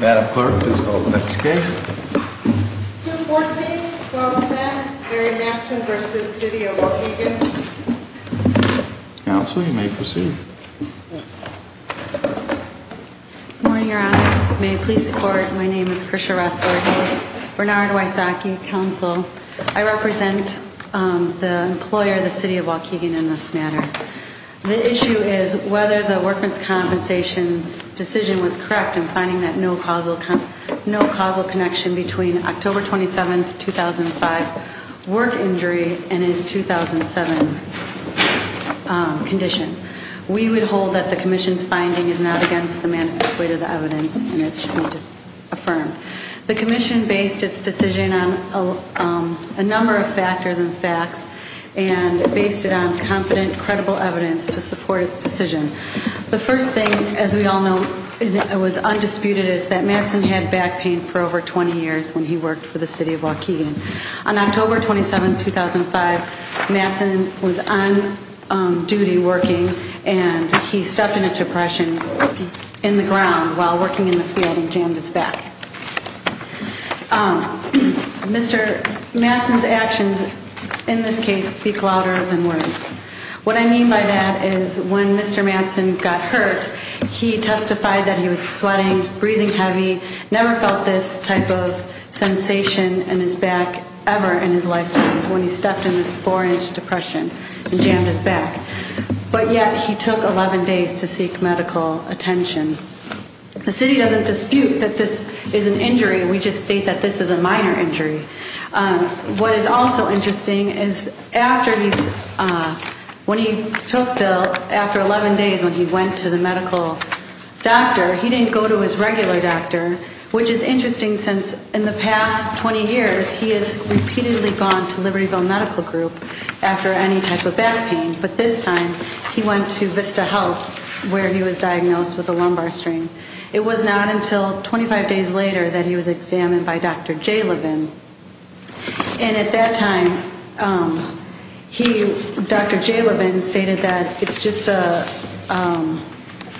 Madam Clerk, please call the next case. 214-1210, Mary Matson v. City of Waukegan Counsel, you may proceed. Good morning, Your Honors. May it please the Court, my name is Krisha Ressler, Bernard Wysocki, Counsel. I represent the employer, the City of Waukegan, in this matter. The issue is whether the Workers' Compensation's decision was correct in finding that no causal connection between October 27, 2005 work injury and its 2007 condition. We would hold that the Commission's finding is not against the manifest way to the evidence and it should be affirmed. The Commission based its decision on a number of factors and facts and based it on confident, credible evidence to support its decision. The first thing, as we all know, that was undisputed is that Matson had back pain for over 20 years when he worked for the City of Waukegan. On October 27, 2005, Matson was on duty working and he stepped in a depression in the ground while working in the field and jammed his back. Mr. Matson's actions in this case speak louder than words. What I mean by that is when Mr. Matson got hurt, he testified that he was sweating, breathing heavy, never felt this type of sensation in his back ever in his lifetime when he stepped in this 4-inch depression and jammed his back. But yet, he took 11 days to seek medical attention. The City doesn't dispute that this is an injury, we just state that this is a minor injury. What is also interesting is when he took the, after 11 days when he went to the medical doctor, he didn't go to his regular doctor, which is interesting since in the past 20 years, he has repeatedly gone to Libertyville Medical Group after any type of back pain, but this time he went to Vista Health where he was diagnosed with a lumbar strain. It was not until 25 days later that he was examined by Dr. Jalobin. And at that time, Dr. Jalobin stated that it's just a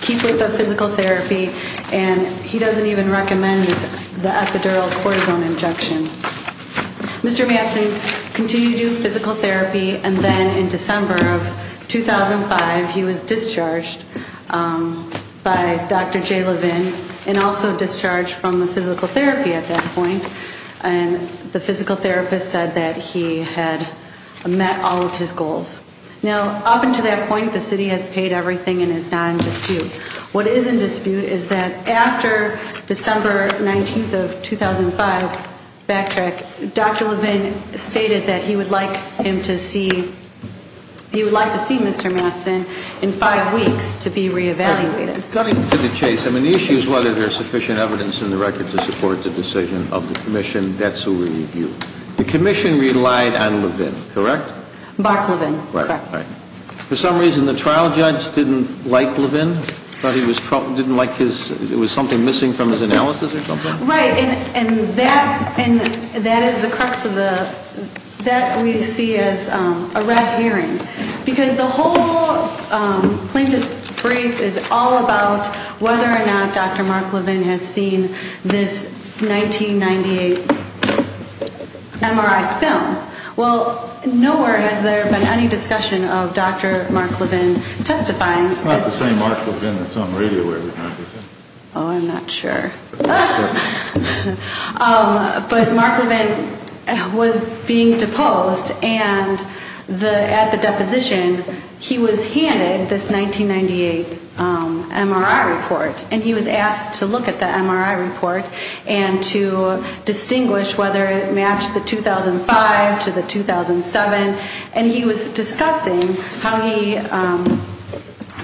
keep with the physical therapy and he doesn't even recommend the epidural cortisone injection. Mr. Matson continued to do physical therapy and then in December of 2005, he was discharged by Dr. Jalobin and also discharged from the physical therapy at that point. And the physical therapist said that he had met all of his goals. Now, up until that point, the City has paid everything and is not in dispute. What is in dispute is that after December 19th of 2005 back track, Dr. Jalobin stated that he would like him to see, he would like to see Mr. Matson in five weeks to be re-evaluated. Coming to the case, I mean, the issue is whether there's sufficient evidence in the record to support the decision of the commission. That's who we review. The commission relied on Jalobin, correct? Box Jalobin. Correct. All right. For some reason, the trial judge didn't like Levin? Thought he was, didn't like his, it was something missing from his analysis or something? Right, and that, and that is the crux of the, that we see as a red herring. Because the whole plaintiff's brief is all about whether or not Dr. Mark Levin has seen this 1998 MRI film. Well, nowhere has there been any discussion of Dr. Mark Levin testifying. It's not the same Mark Levin that's on radio where we can't hear him. Oh, I'm not sure. But Mark Levin was being deposed and the, at the deposition, he was handed this 1998 MRI report. And he was asked to look at the MRI report and to distinguish whether it matched the 2005 to the 2007. And he was discussing how he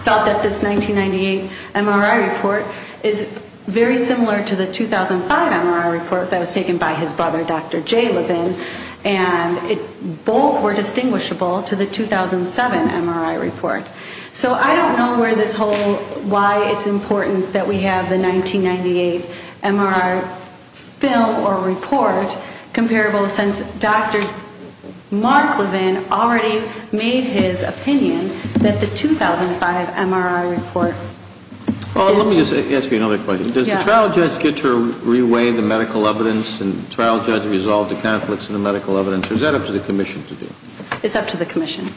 thought that this 1998 MRI report is very similar to the 2005 MRI report that was taken by his brother, Dr. Jalobin. And it, both were distinguishable to the 2007 MRI report. So I don't know where this whole, why it's important that we have the 1998 MRI film or report comparable, since Dr. Mark Levin already made his opinion that the 2005 MRI report is. Well, let me just ask you another question. Yeah. Does the trial judge get to re-weigh the medical evidence and trial judge resolve the conflicts in the medical evidence? Or is that up to the commission to do? It's up to the commission.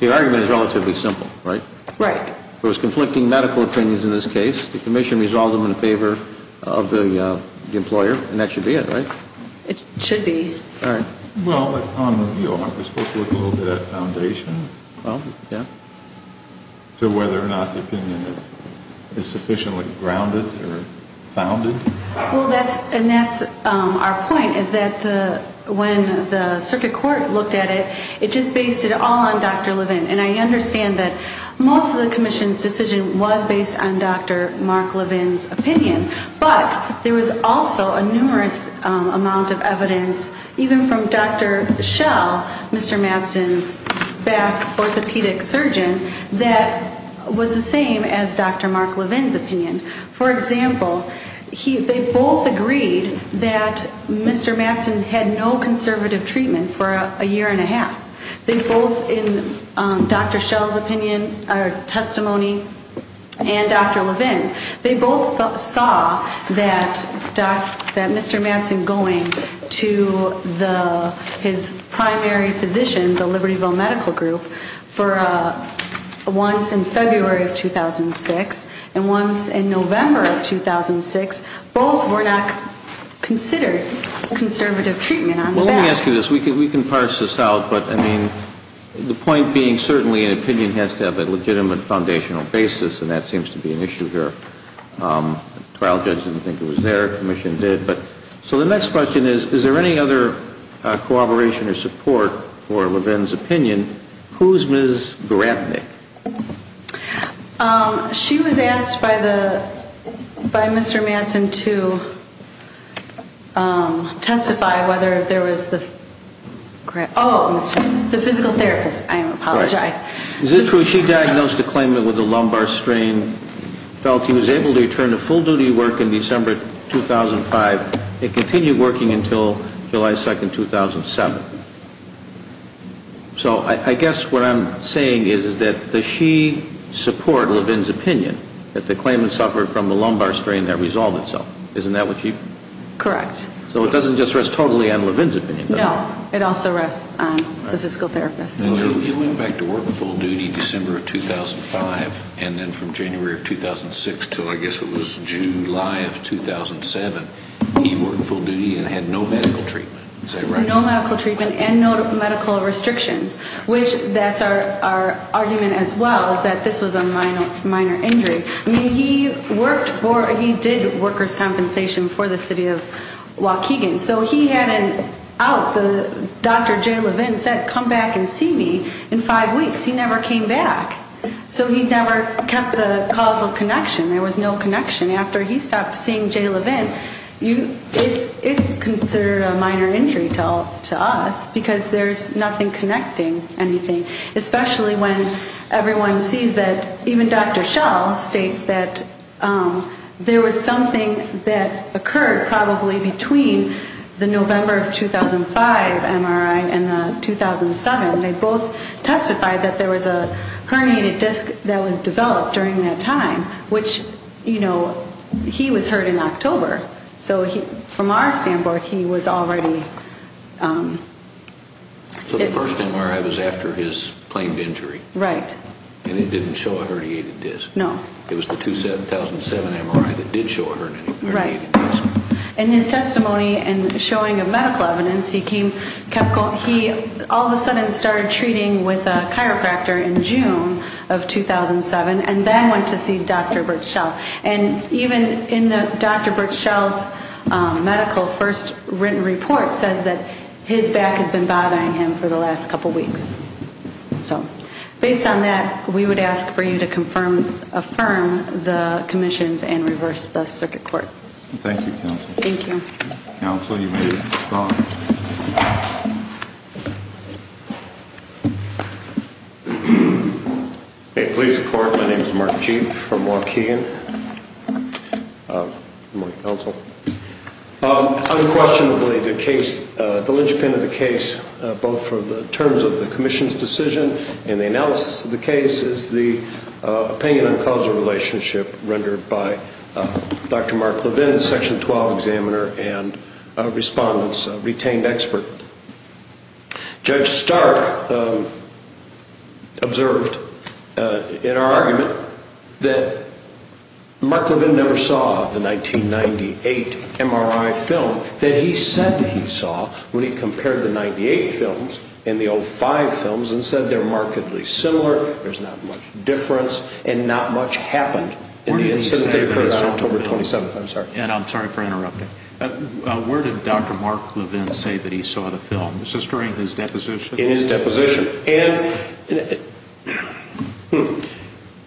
The argument is relatively simple, right? Right. There was conflicting medical opinions in this case. The commission resolved them in favor of the employer. And that should be it, right? It should be. All right. Well, on the view, aren't we supposed to look a little bit at foundation? Well, yeah. To whether or not the opinion is sufficiently grounded or founded. Well, that's, and that's our point, is that the, when the circuit court looked at it, it just based it all on Dr. Levin. And I understand that most of the commission's decision was based on Dr. Mark Levin's opinion. But there was also a numerous amount of evidence, even from Dr. Schell, Mr. Madsen's back orthopedic surgeon, that was the same as Dr. Mark Levin's opinion. For example, they both agreed that Mr. Madsen had no conservative treatment for a year and a half. They both, in Dr. Schell's opinion, or testimony, and Dr. Levin, they both saw that Mr. Madsen going to his primary physician, the Libertyville Medical Group, for a, once in February of 2006, and once in November of 2006, both were not considered conservative treatment on the back. Well, let me ask you this. We can parse this out. But, I mean, the point being, certainly an opinion has to have a legitimate foundational basis. And that seems to be an issue here. Trial judge didn't think it was there. Commission did. So the next question is, is there any other corroboration or support for Levin's opinion? Who is Ms. Grapnik? She was asked by Mr. Madsen to testify whether there was the, oh, the physical therapist. I apologize. Is it true she diagnosed a claimant with a lumbar strain, felt he was able to return to full-duty work in December 2005, and continue working until July 2nd, 2007? So I guess what I'm saying is that does she support Levin's opinion that the claimant suffered from a lumbar strain that resolved itself? Isn't that what she? Correct. So it doesn't just rest totally on Levin's opinion, does it? No. It also rests on the physical therapist. You went back to work full-duty December 2005, and then from January 2006 until I guess it was July 2007, he worked full-duty and had no medical treatment. Is that right? No medical treatment and no medical restrictions, which that's our argument as well, is that this was a minor injury. I mean, he worked for, he did workers' compensation for the city of Waukegan. So he had an out, Dr. Jay Levin said, come back and see me in five weeks. He never came back. So he never kept the causal connection. There was no connection. After he stopped seeing Jay Levin, it's considered a minor injury to us because there's nothing connecting anything, especially when everyone sees that even Dr. Schall states that there was something that occurred probably between the November of 2005 MRI and the 2007. They both testified that there was a herniated disc that was developed during that time, which, you know, he was hurt in October. So from our standpoint, he was already. So the first MRI was after his claimed injury. Right. And it didn't show a herniated disc. No. It was the 2007 MRI that did show a herniated disc. Right. And his testimony and showing of medical evidence, he all of a sudden started treating with a chiropractor in June of 2007 and then went to see Dr. Bert Schall. And even in the Dr. Bert Schall's medical first written report says that his back has been bothering him for the last couple of weeks. So based on that, we would ask for you to confirm, affirm the commissions and reverse the circuit court. Thank you, Counsel. Thank you. Counsel, you may call. May it please the Court, my name is Mark Jeep from Waukegan. Good morning, Counsel. Unquestionably, the case, the linchpin of the case, both for the terms of the commission's decision and the analysis of the case, is the opinion on causal relationship rendered by Dr. Mark Levin, Section 12 examiner and respondents. Dr. Levin was a retained expert. Judge Stark observed in our argument that Mark Levin never saw the 1998 MRI film that he said he saw when he compared the 98 films and the old five films and said they're markedly similar, there's not much difference, and not much happened in the incident that occurred on October 27th. I'm sorry. And I'm sorry for interrupting. Where did Dr. Mark Levin say that he saw the film? Was this during his deposition? In his deposition.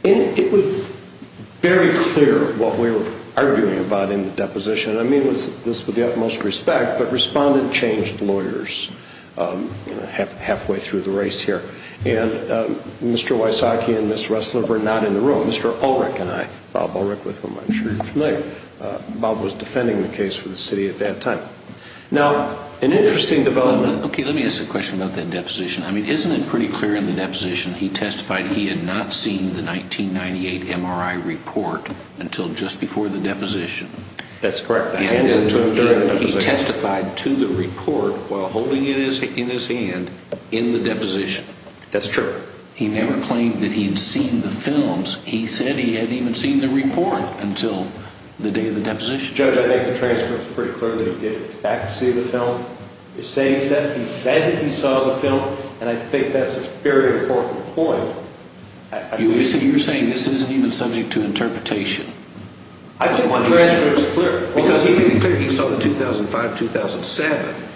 And it was very clear what we were arguing about in the deposition. I mean this with the utmost respect, but respondent changed lawyers halfway through the race here. And Mr. Wysocki and Ms. Ressler were not in the room. Mr. Ulrich and I, Bob Ulrich with whom I'm sure you're familiar, Bob was defending the case for the city at that time. Now, an interesting development. Okay, let me ask a question about that deposition. I mean, isn't it pretty clear in the deposition he testified he had not seen the 1998 MRI report until just before the deposition? That's correct. He testified to the report while holding it in his hand in the deposition. That's true. He never claimed that he had seen the films. He said he hadn't even seen the report until the day of the deposition. Judge, I think the transcript is pretty clear that he did in fact see the film. You're saying he said he saw the film, and I think that's a very important point. You're saying this isn't even subject to interpretation. I think the transcript is clear because he made it clear he saw the 2005-2007.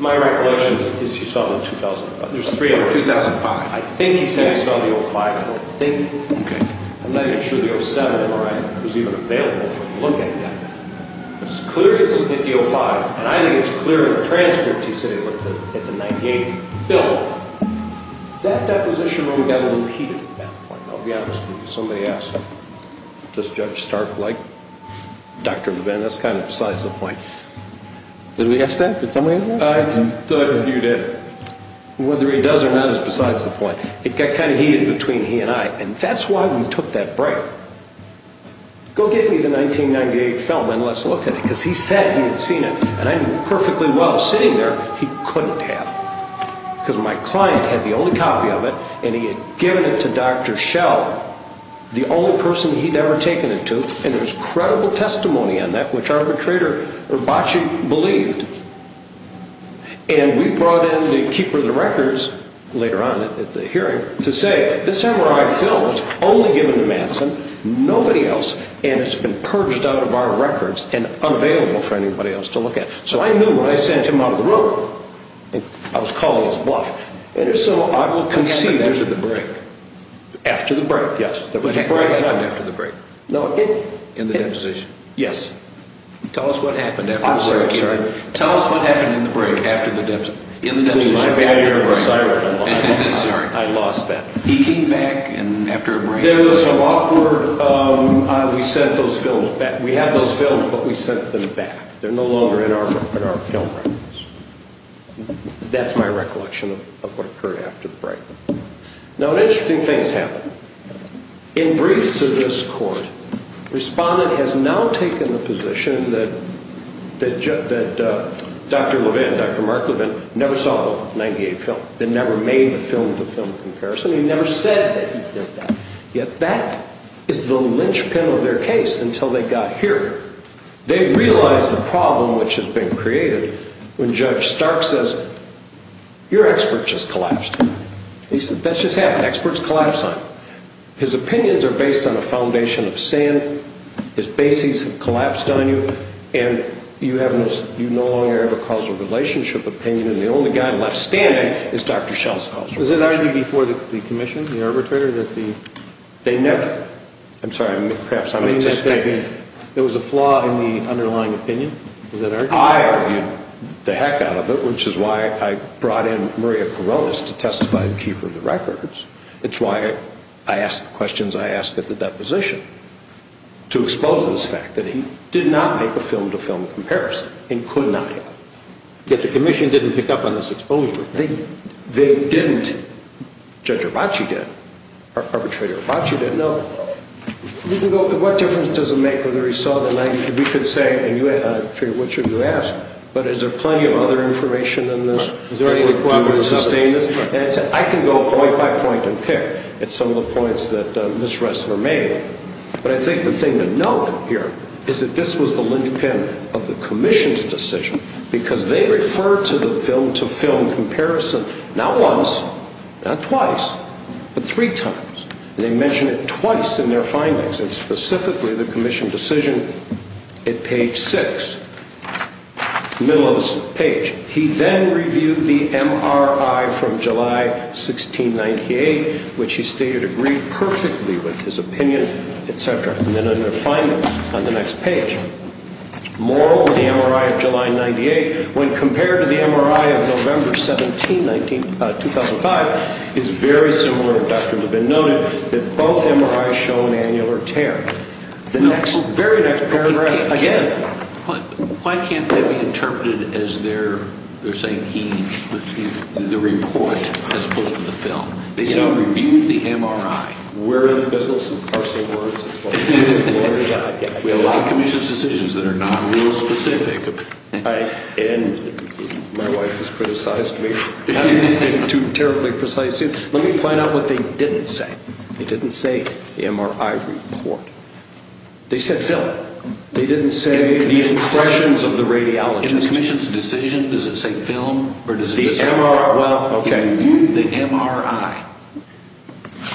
My recollection is he saw the 2005. There's three of them. 2005. I think he said he saw the 2005 film. Okay. I'm not even sure the 2007 MRI was even available for him to look at yet. But it's clear he looked at the 2005, and I think it's clear in the transcript he said he looked at the 1998 film. That deposition only got repeated at that point. I'll be honest with you. Somebody asked, does Judge Stark like Dr. Levin? That's kind of besides the point. Did we ask that? Did somebody ask that? I thought you did. Whether he does or not is besides the point. It got kind of heated between he and I, and that's why we took that break. Go get me the 1998 film and let's look at it because he said he had seen it, and I knew perfectly well sitting there he couldn't have because my client had the only copy of it, and he had given it to Dr. Shell, the only person he'd ever taken it to, and there's credible testimony on that which arbitrator Urbache believed. And we brought in the keeper of the records later on at the hearing to say, this MRI film was only given to Manson, nobody else, and it's been purged out of our records and unavailable for anybody else to look at. So I knew when I sent him out of the room, I was calling his bluff, and if so, I will concede there's a break. After the break, yes, there was a break. It happened after the break. No, it did. In the deposition. Yes. Tell us what happened after the break. I'm sorry, I'm sorry. Tell us what happened in the break after the deposition. In the deposition. My bad ear was siren. I'm sorry. I lost that. He came back after a break. There was some awkward, we sent those films back. We had those films, but we sent them back. They're no longer in our film records. That's my recollection of what occurred after the break. Now, an interesting thing has happened. In briefs to this court, respondent has now taken the position that Dr. Levin, Dr. Mark Levin, never saw the 98 film. They never made the film-to-film comparison. He never said that he did that. Yet that is the linchpin of their case until they got here. They realized the problem which has been created when Judge Stark says, your expert just collapsed. He said, that just happened. Experts collapse on you. His opinions are based on a foundation of sin. His bases have collapsed on you. And you no longer have a causal relationship opinion. And the only guy left standing is Dr. Schell's causal relationship. Was it already before the commission, the arbitrator, that the- They never. I'm sorry, perhaps I'm anticipating. There was a flaw in the underlying opinion. Was that argued? I argued the heck out of it, which is why I brought in Maria Kouroulis to testify and keep her records. It's why I asked the questions I asked at the deposition, to expose this fact that he did not make a film-to-film comparison and could not have. Yet the commission didn't pick up on this exposure. They didn't. Judge Herbace did. Arbitrator Herbace did. What difference does it make whether he saw the magnitude? We could say, and I figure, what should we ask? But is there plenty of other information in this? Is there any requirement to sustain this? I can go point by point and pick at some of the points that Ms. Ressler made, but I think the thing to note here is that this was the linchpin of the commission's decision because they referred to the film-to-film comparison not once, not twice, but three times. They mentioned it twice in their findings, and specifically the commission decision at page 6, the middle of the page. He then reviewed the MRI from July 1698, which he stated agreed perfectly with his opinion, etc., and then in their findings on the next page. Moral of the MRI of July 98, when compared to the MRI of November 17, 2005, is very similar. It would have been noted that both MRIs show an annular tear. The very next paragraph, again. Why can't that be interpreted as they're saying he, excuse me, the report as opposed to the film? They said he reviewed the MRI. We're in the business of parsing words. That's what we do in Florida. We allow commissions decisions that are not rule-specific. My wife has criticized me for not being too terribly precise. Let me point out what they didn't say. They didn't say MRI report. They said film. They didn't say the impressions of the radiologist. In the commission's decision, does it say film or does it say film? Well, okay. He reviewed the MRI.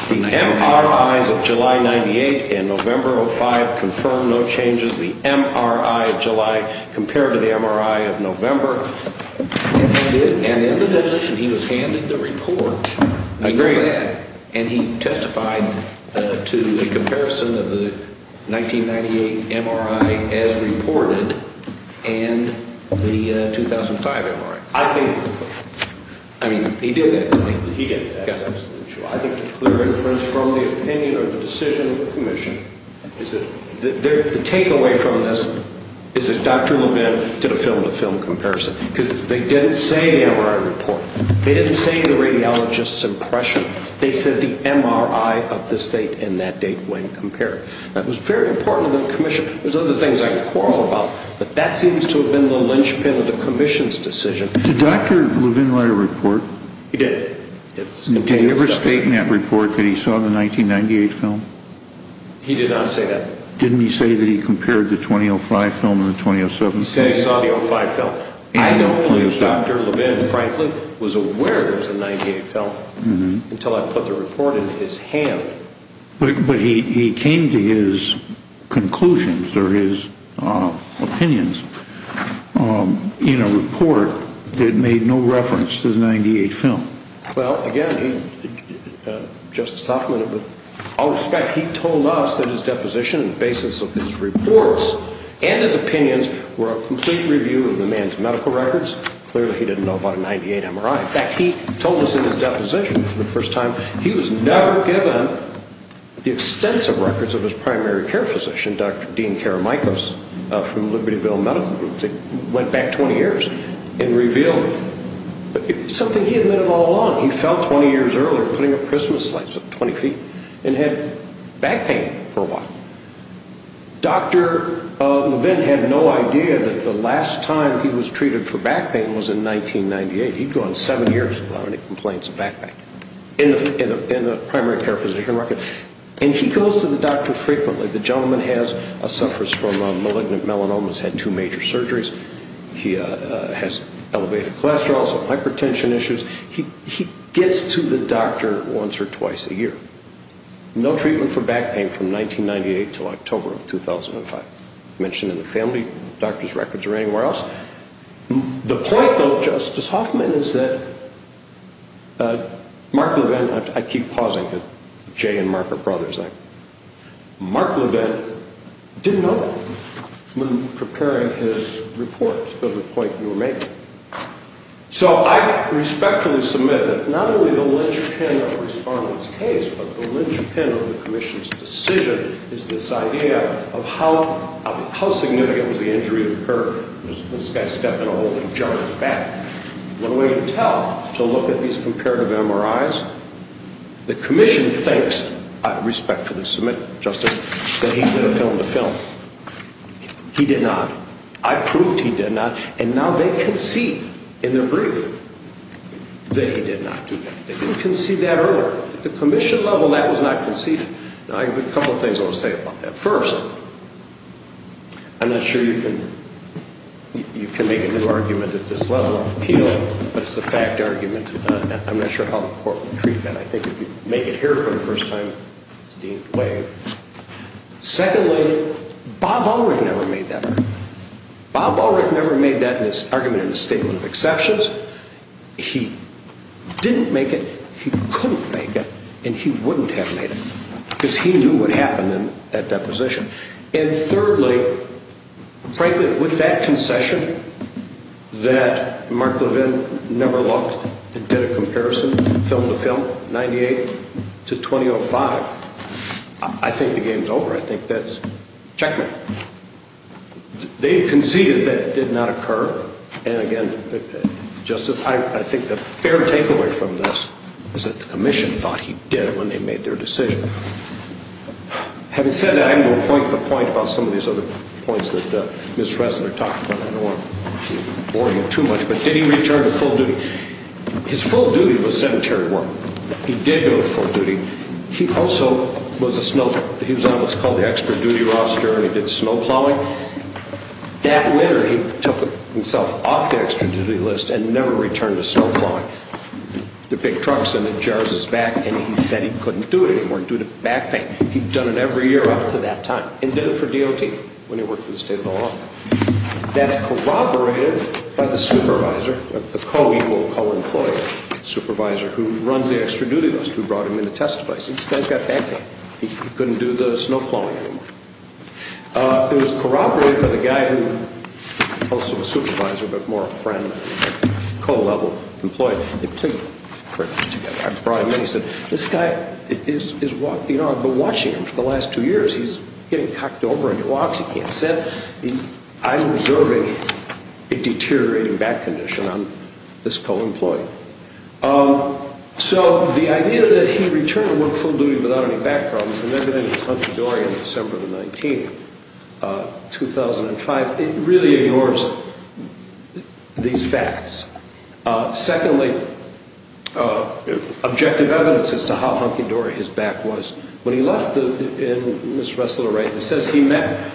The MRIs of July 98 and November 05 confirm no changes. The MRI of July compared to the MRI of November. And in the deposition, he was handed the report. I agree with that. And he testified to a comparison of the 1998 MRI as reported and the 2005 MRI. I think. I mean, he did that, didn't he? He did. That's absolutely true. I think the clear inference from the opinion or the decision of the commission is that the takeaway from this is that Dr. Levin did a film-to-film comparison. Because they didn't say MRI report. They didn't say the radiologist's impression. They said the MRI of this date and that date when compared. That was very important to the commission. There's other things I can quarrel about, but that seems to have been the linchpin of the commission's decision. Did Dr. Levin write a report? He did. Did he ever state in that report that he saw the 1998 film? He did not say that. Didn't he say that he compared the 2005 film and the 2007 film? He said he saw the 05 film. I don't believe Dr. Levin, frankly, was aware there was a 98 film until I put the report in his hand. But he came to his conclusions or his opinions in a report that made no reference to the 98 film. Well, again, Justice Hoffman, with all respect, he told us that his deposition and basis of his reports and his opinions were a complete review of the man's medical records. Clearly, he didn't know about a 98 MRI. In fact, he told us in his deposition for the first time he was never given the extensive records of his primary care physician, Dr. Dean Karamichos, from Libertyville Medical Group. He went back 20 years and revealed something he had known all along. He fell 20 years earlier putting up Christmas lights up 20 feet and had back pain for a while. Dr. Levin had no idea that the last time he was treated for back pain was in 1998. He'd gone seven years without any complaints of back pain in the primary care physician record. And he goes to the doctor frequently. The gentleman suffers from malignant melanomas, has had two major surgeries. He has elevated cholesterol, some hypertension issues. He gets to the doctor once or twice a year. No treatment for back pain from 1998 until October of 2005. Mentioned in the family doctor's records or anywhere else. The point, though, Justice Hoffman, is that Mark Levin, I keep pausing because Jay and Mark are brothers, Mark Levin didn't know when preparing his report to the point you were making. So I respectfully submit that not only the linchpin of the respondent's case, but the linchpin of the commission's decision is this idea of how significant was the injury that occurred when this guy stepped in a hole and jumped his back. One way to tell is to look at these comparative MRIs. The commission thinks, I respectfully submit, Justice, that he did a film to film. He did not. I proved he did not. And now they concede in their brief that he did not do that. They didn't concede that earlier. At the commission level, that was not conceded. Now, a couple of things I want to say about that. First, I'm not sure you can make a new argument at this level of appeal, but it's a fact argument. I'm not sure how the court would treat that. I think if you make it here for the first time, it's deemed way. Secondly, Bob Ulrich never made that argument. Bob Ulrich never made that argument in his statement of exceptions. He didn't make it, he couldn't make it, and he wouldn't have made it because he knew what happened in that deposition. And thirdly, frankly, with that concession that Mark Levin never looked and did a comparison film to film, 98 to 2005, I think the game's over. I think that's checkmate. They conceded that it did not occur. And again, Justice, I think the fair takeaway from this is that the commission thought he did when they made their decision. Having said that, I'm going to point the point about some of these other points that Ms. Reznor talked about. I don't want to bore you too much. But did he return to full duty? His full duty was cemetery work. He did go to full duty. He also was a snow plow. He was on what's called the extra duty roster, and he did snow plowing. That winter, he took himself off the extra duty list and never returned to snow plowing. They're big trucks, and it jars his back, and he said he couldn't do it anymore due to back pain. He'd done it every year up to that time and did it for DOT when he worked for the state law. That's corroborated by the supervisor, the co-employer, supervisor, who runs the extra duty list who brought him in to testify. He said, this guy's got back pain. He couldn't do the snow plowing anymore. It was corroborated by the guy who was also the supervisor but more a friend, co-level employee. They played cricket together. I brought him in. He said, this guy, I've been watching him for the last two years. He's getting cocked over on your walks. He can't sit. I'm observing a deteriorating back condition on this co-employee. So the idea that he returned to work full duty without any back problems and everything was hunky-dory on December the 19th, 2005, it really ignores these facts. Secondly, objective evidence as to how hunky-dory his back was. When he left Ms. Ressler, he says he met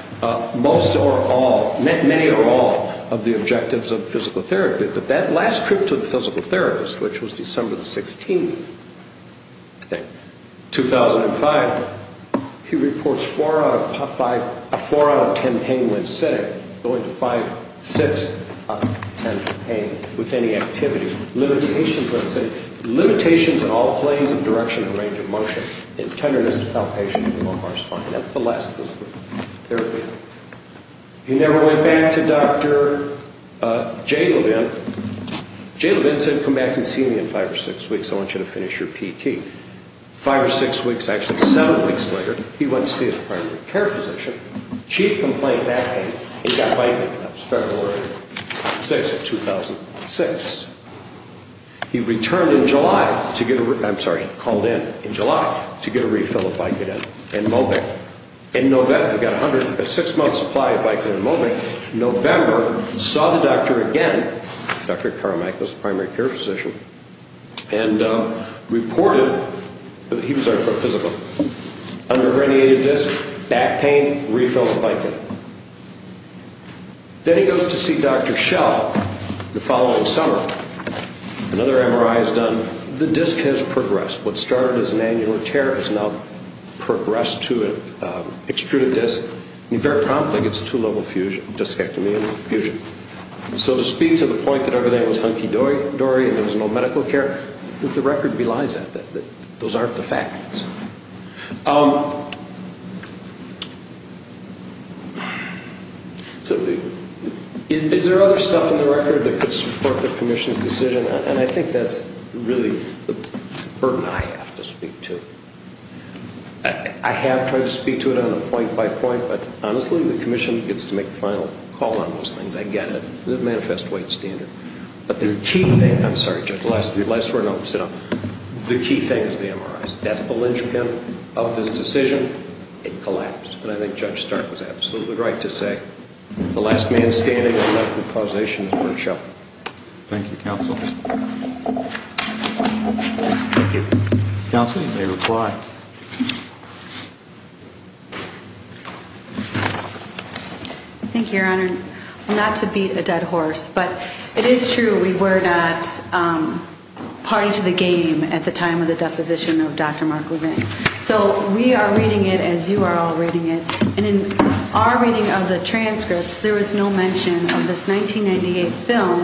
most or all, met many or all of the objectives of physical therapy. But that last trip to the physical therapist, which was December the 16th, 2005, he reports four out of ten pain when sitting, going to five, six out of ten pain with any activity. Limitations on all planes of direction and range of motion, and tenderness to help patients with low heart spine. That's the last physical therapy. He never went back to Dr. J. Levin. J. Levin said, come back and see me in five or six weeks. I want you to finish your PT. Five or six weeks, actually, seven weeks later, he went to see his primary care physician. Chief complaint back then, he got bifurcated. That was February 6th, 2006. He returned in July to get a, I'm sorry, called in in July to get a refill of bifurcated in Mobic. In November, he got a six-month supply of bifurcated in Mobic. In November, he saw the doctor again, Dr. Carmichael's primary care physician, and reported, he was there for a physical, undergradiated disc, back pain, refill of bifurcated. Then he goes to see Dr. Schell the following summer. Another MRI is done. The disc has progressed. What started as an annular tear has now progressed to an extruded disc, and he very promptly gets a two-level discectomy and fusion. So to speak to the point that everything was hunky-dory and there was no medical care, the record belies that. Those aren't the facts. So is there other stuff in the record that could support the commission's decision? And I think that's really the burden I have to speak to. I have tried to speak to it on a point-by-point, but honestly the commission gets to make the final call on those things. I get it. But the key thing is the MRIs. That's the linchpin of this decision. It collapsed, and I think Judge Stark was absolutely right to say the last man standing in medical causation is Bert Schell. Thank you, counsel. Thank you, Your Honor. Not to beat a dead horse, but it is true, we were not party to the game at the time of the deposition of Dr. Mark Levin. So we are reading it as you are all reading it, and in our reading of the transcripts there was no mention of this 1998 film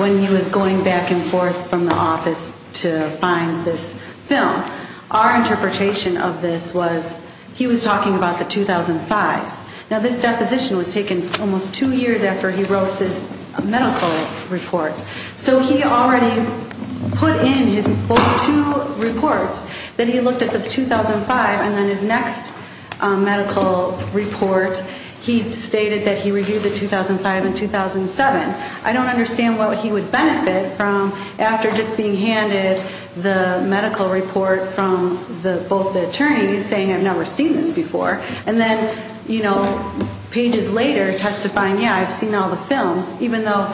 when he was going back and forth from the office to find this film. Our interpretation of this was he was talking about the 2005. Now, this deposition was taken almost two years after he wrote this medical report. So he already put in his two reports that he looked at the 2005, and then his next medical report he stated that he reviewed the 2005 and 2007. I don't understand what he would benefit from after just being handed the medical report from both the attorneys saying, I've never seen this before. And then, you know, pages later testifying, yeah, I've seen all the films, even though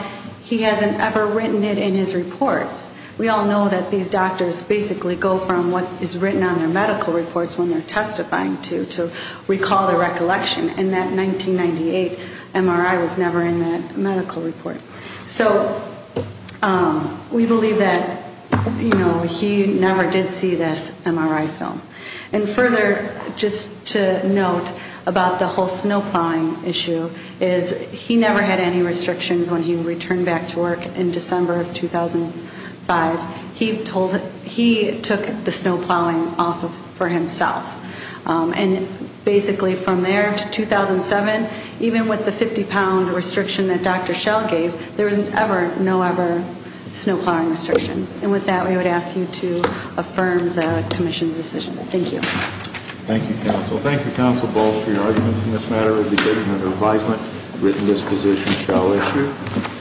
he hasn't ever written it in his reports. We all know that these doctors basically go from what is written on their medical reports when they're testifying to recall their recollection, and that 1998 MRI was never in that medical report. So we believe that, you know, he never did see this MRI film. And further, just to note about the whole snow plowing issue, is he never had any restrictions when he returned back to work in December of 2005. He took the snow plowing off for himself. And basically from there to 2007, even with the 50-pound restriction that Dr. Schell gave, there was never, no ever snow plowing restrictions. And with that, we would ask you to affirm the commission's decision. Thank you. Thank you, counsel. Thank you, counsel, both, for your arguments in this matter. We'll be taking it under advisement, written disposition shall issue.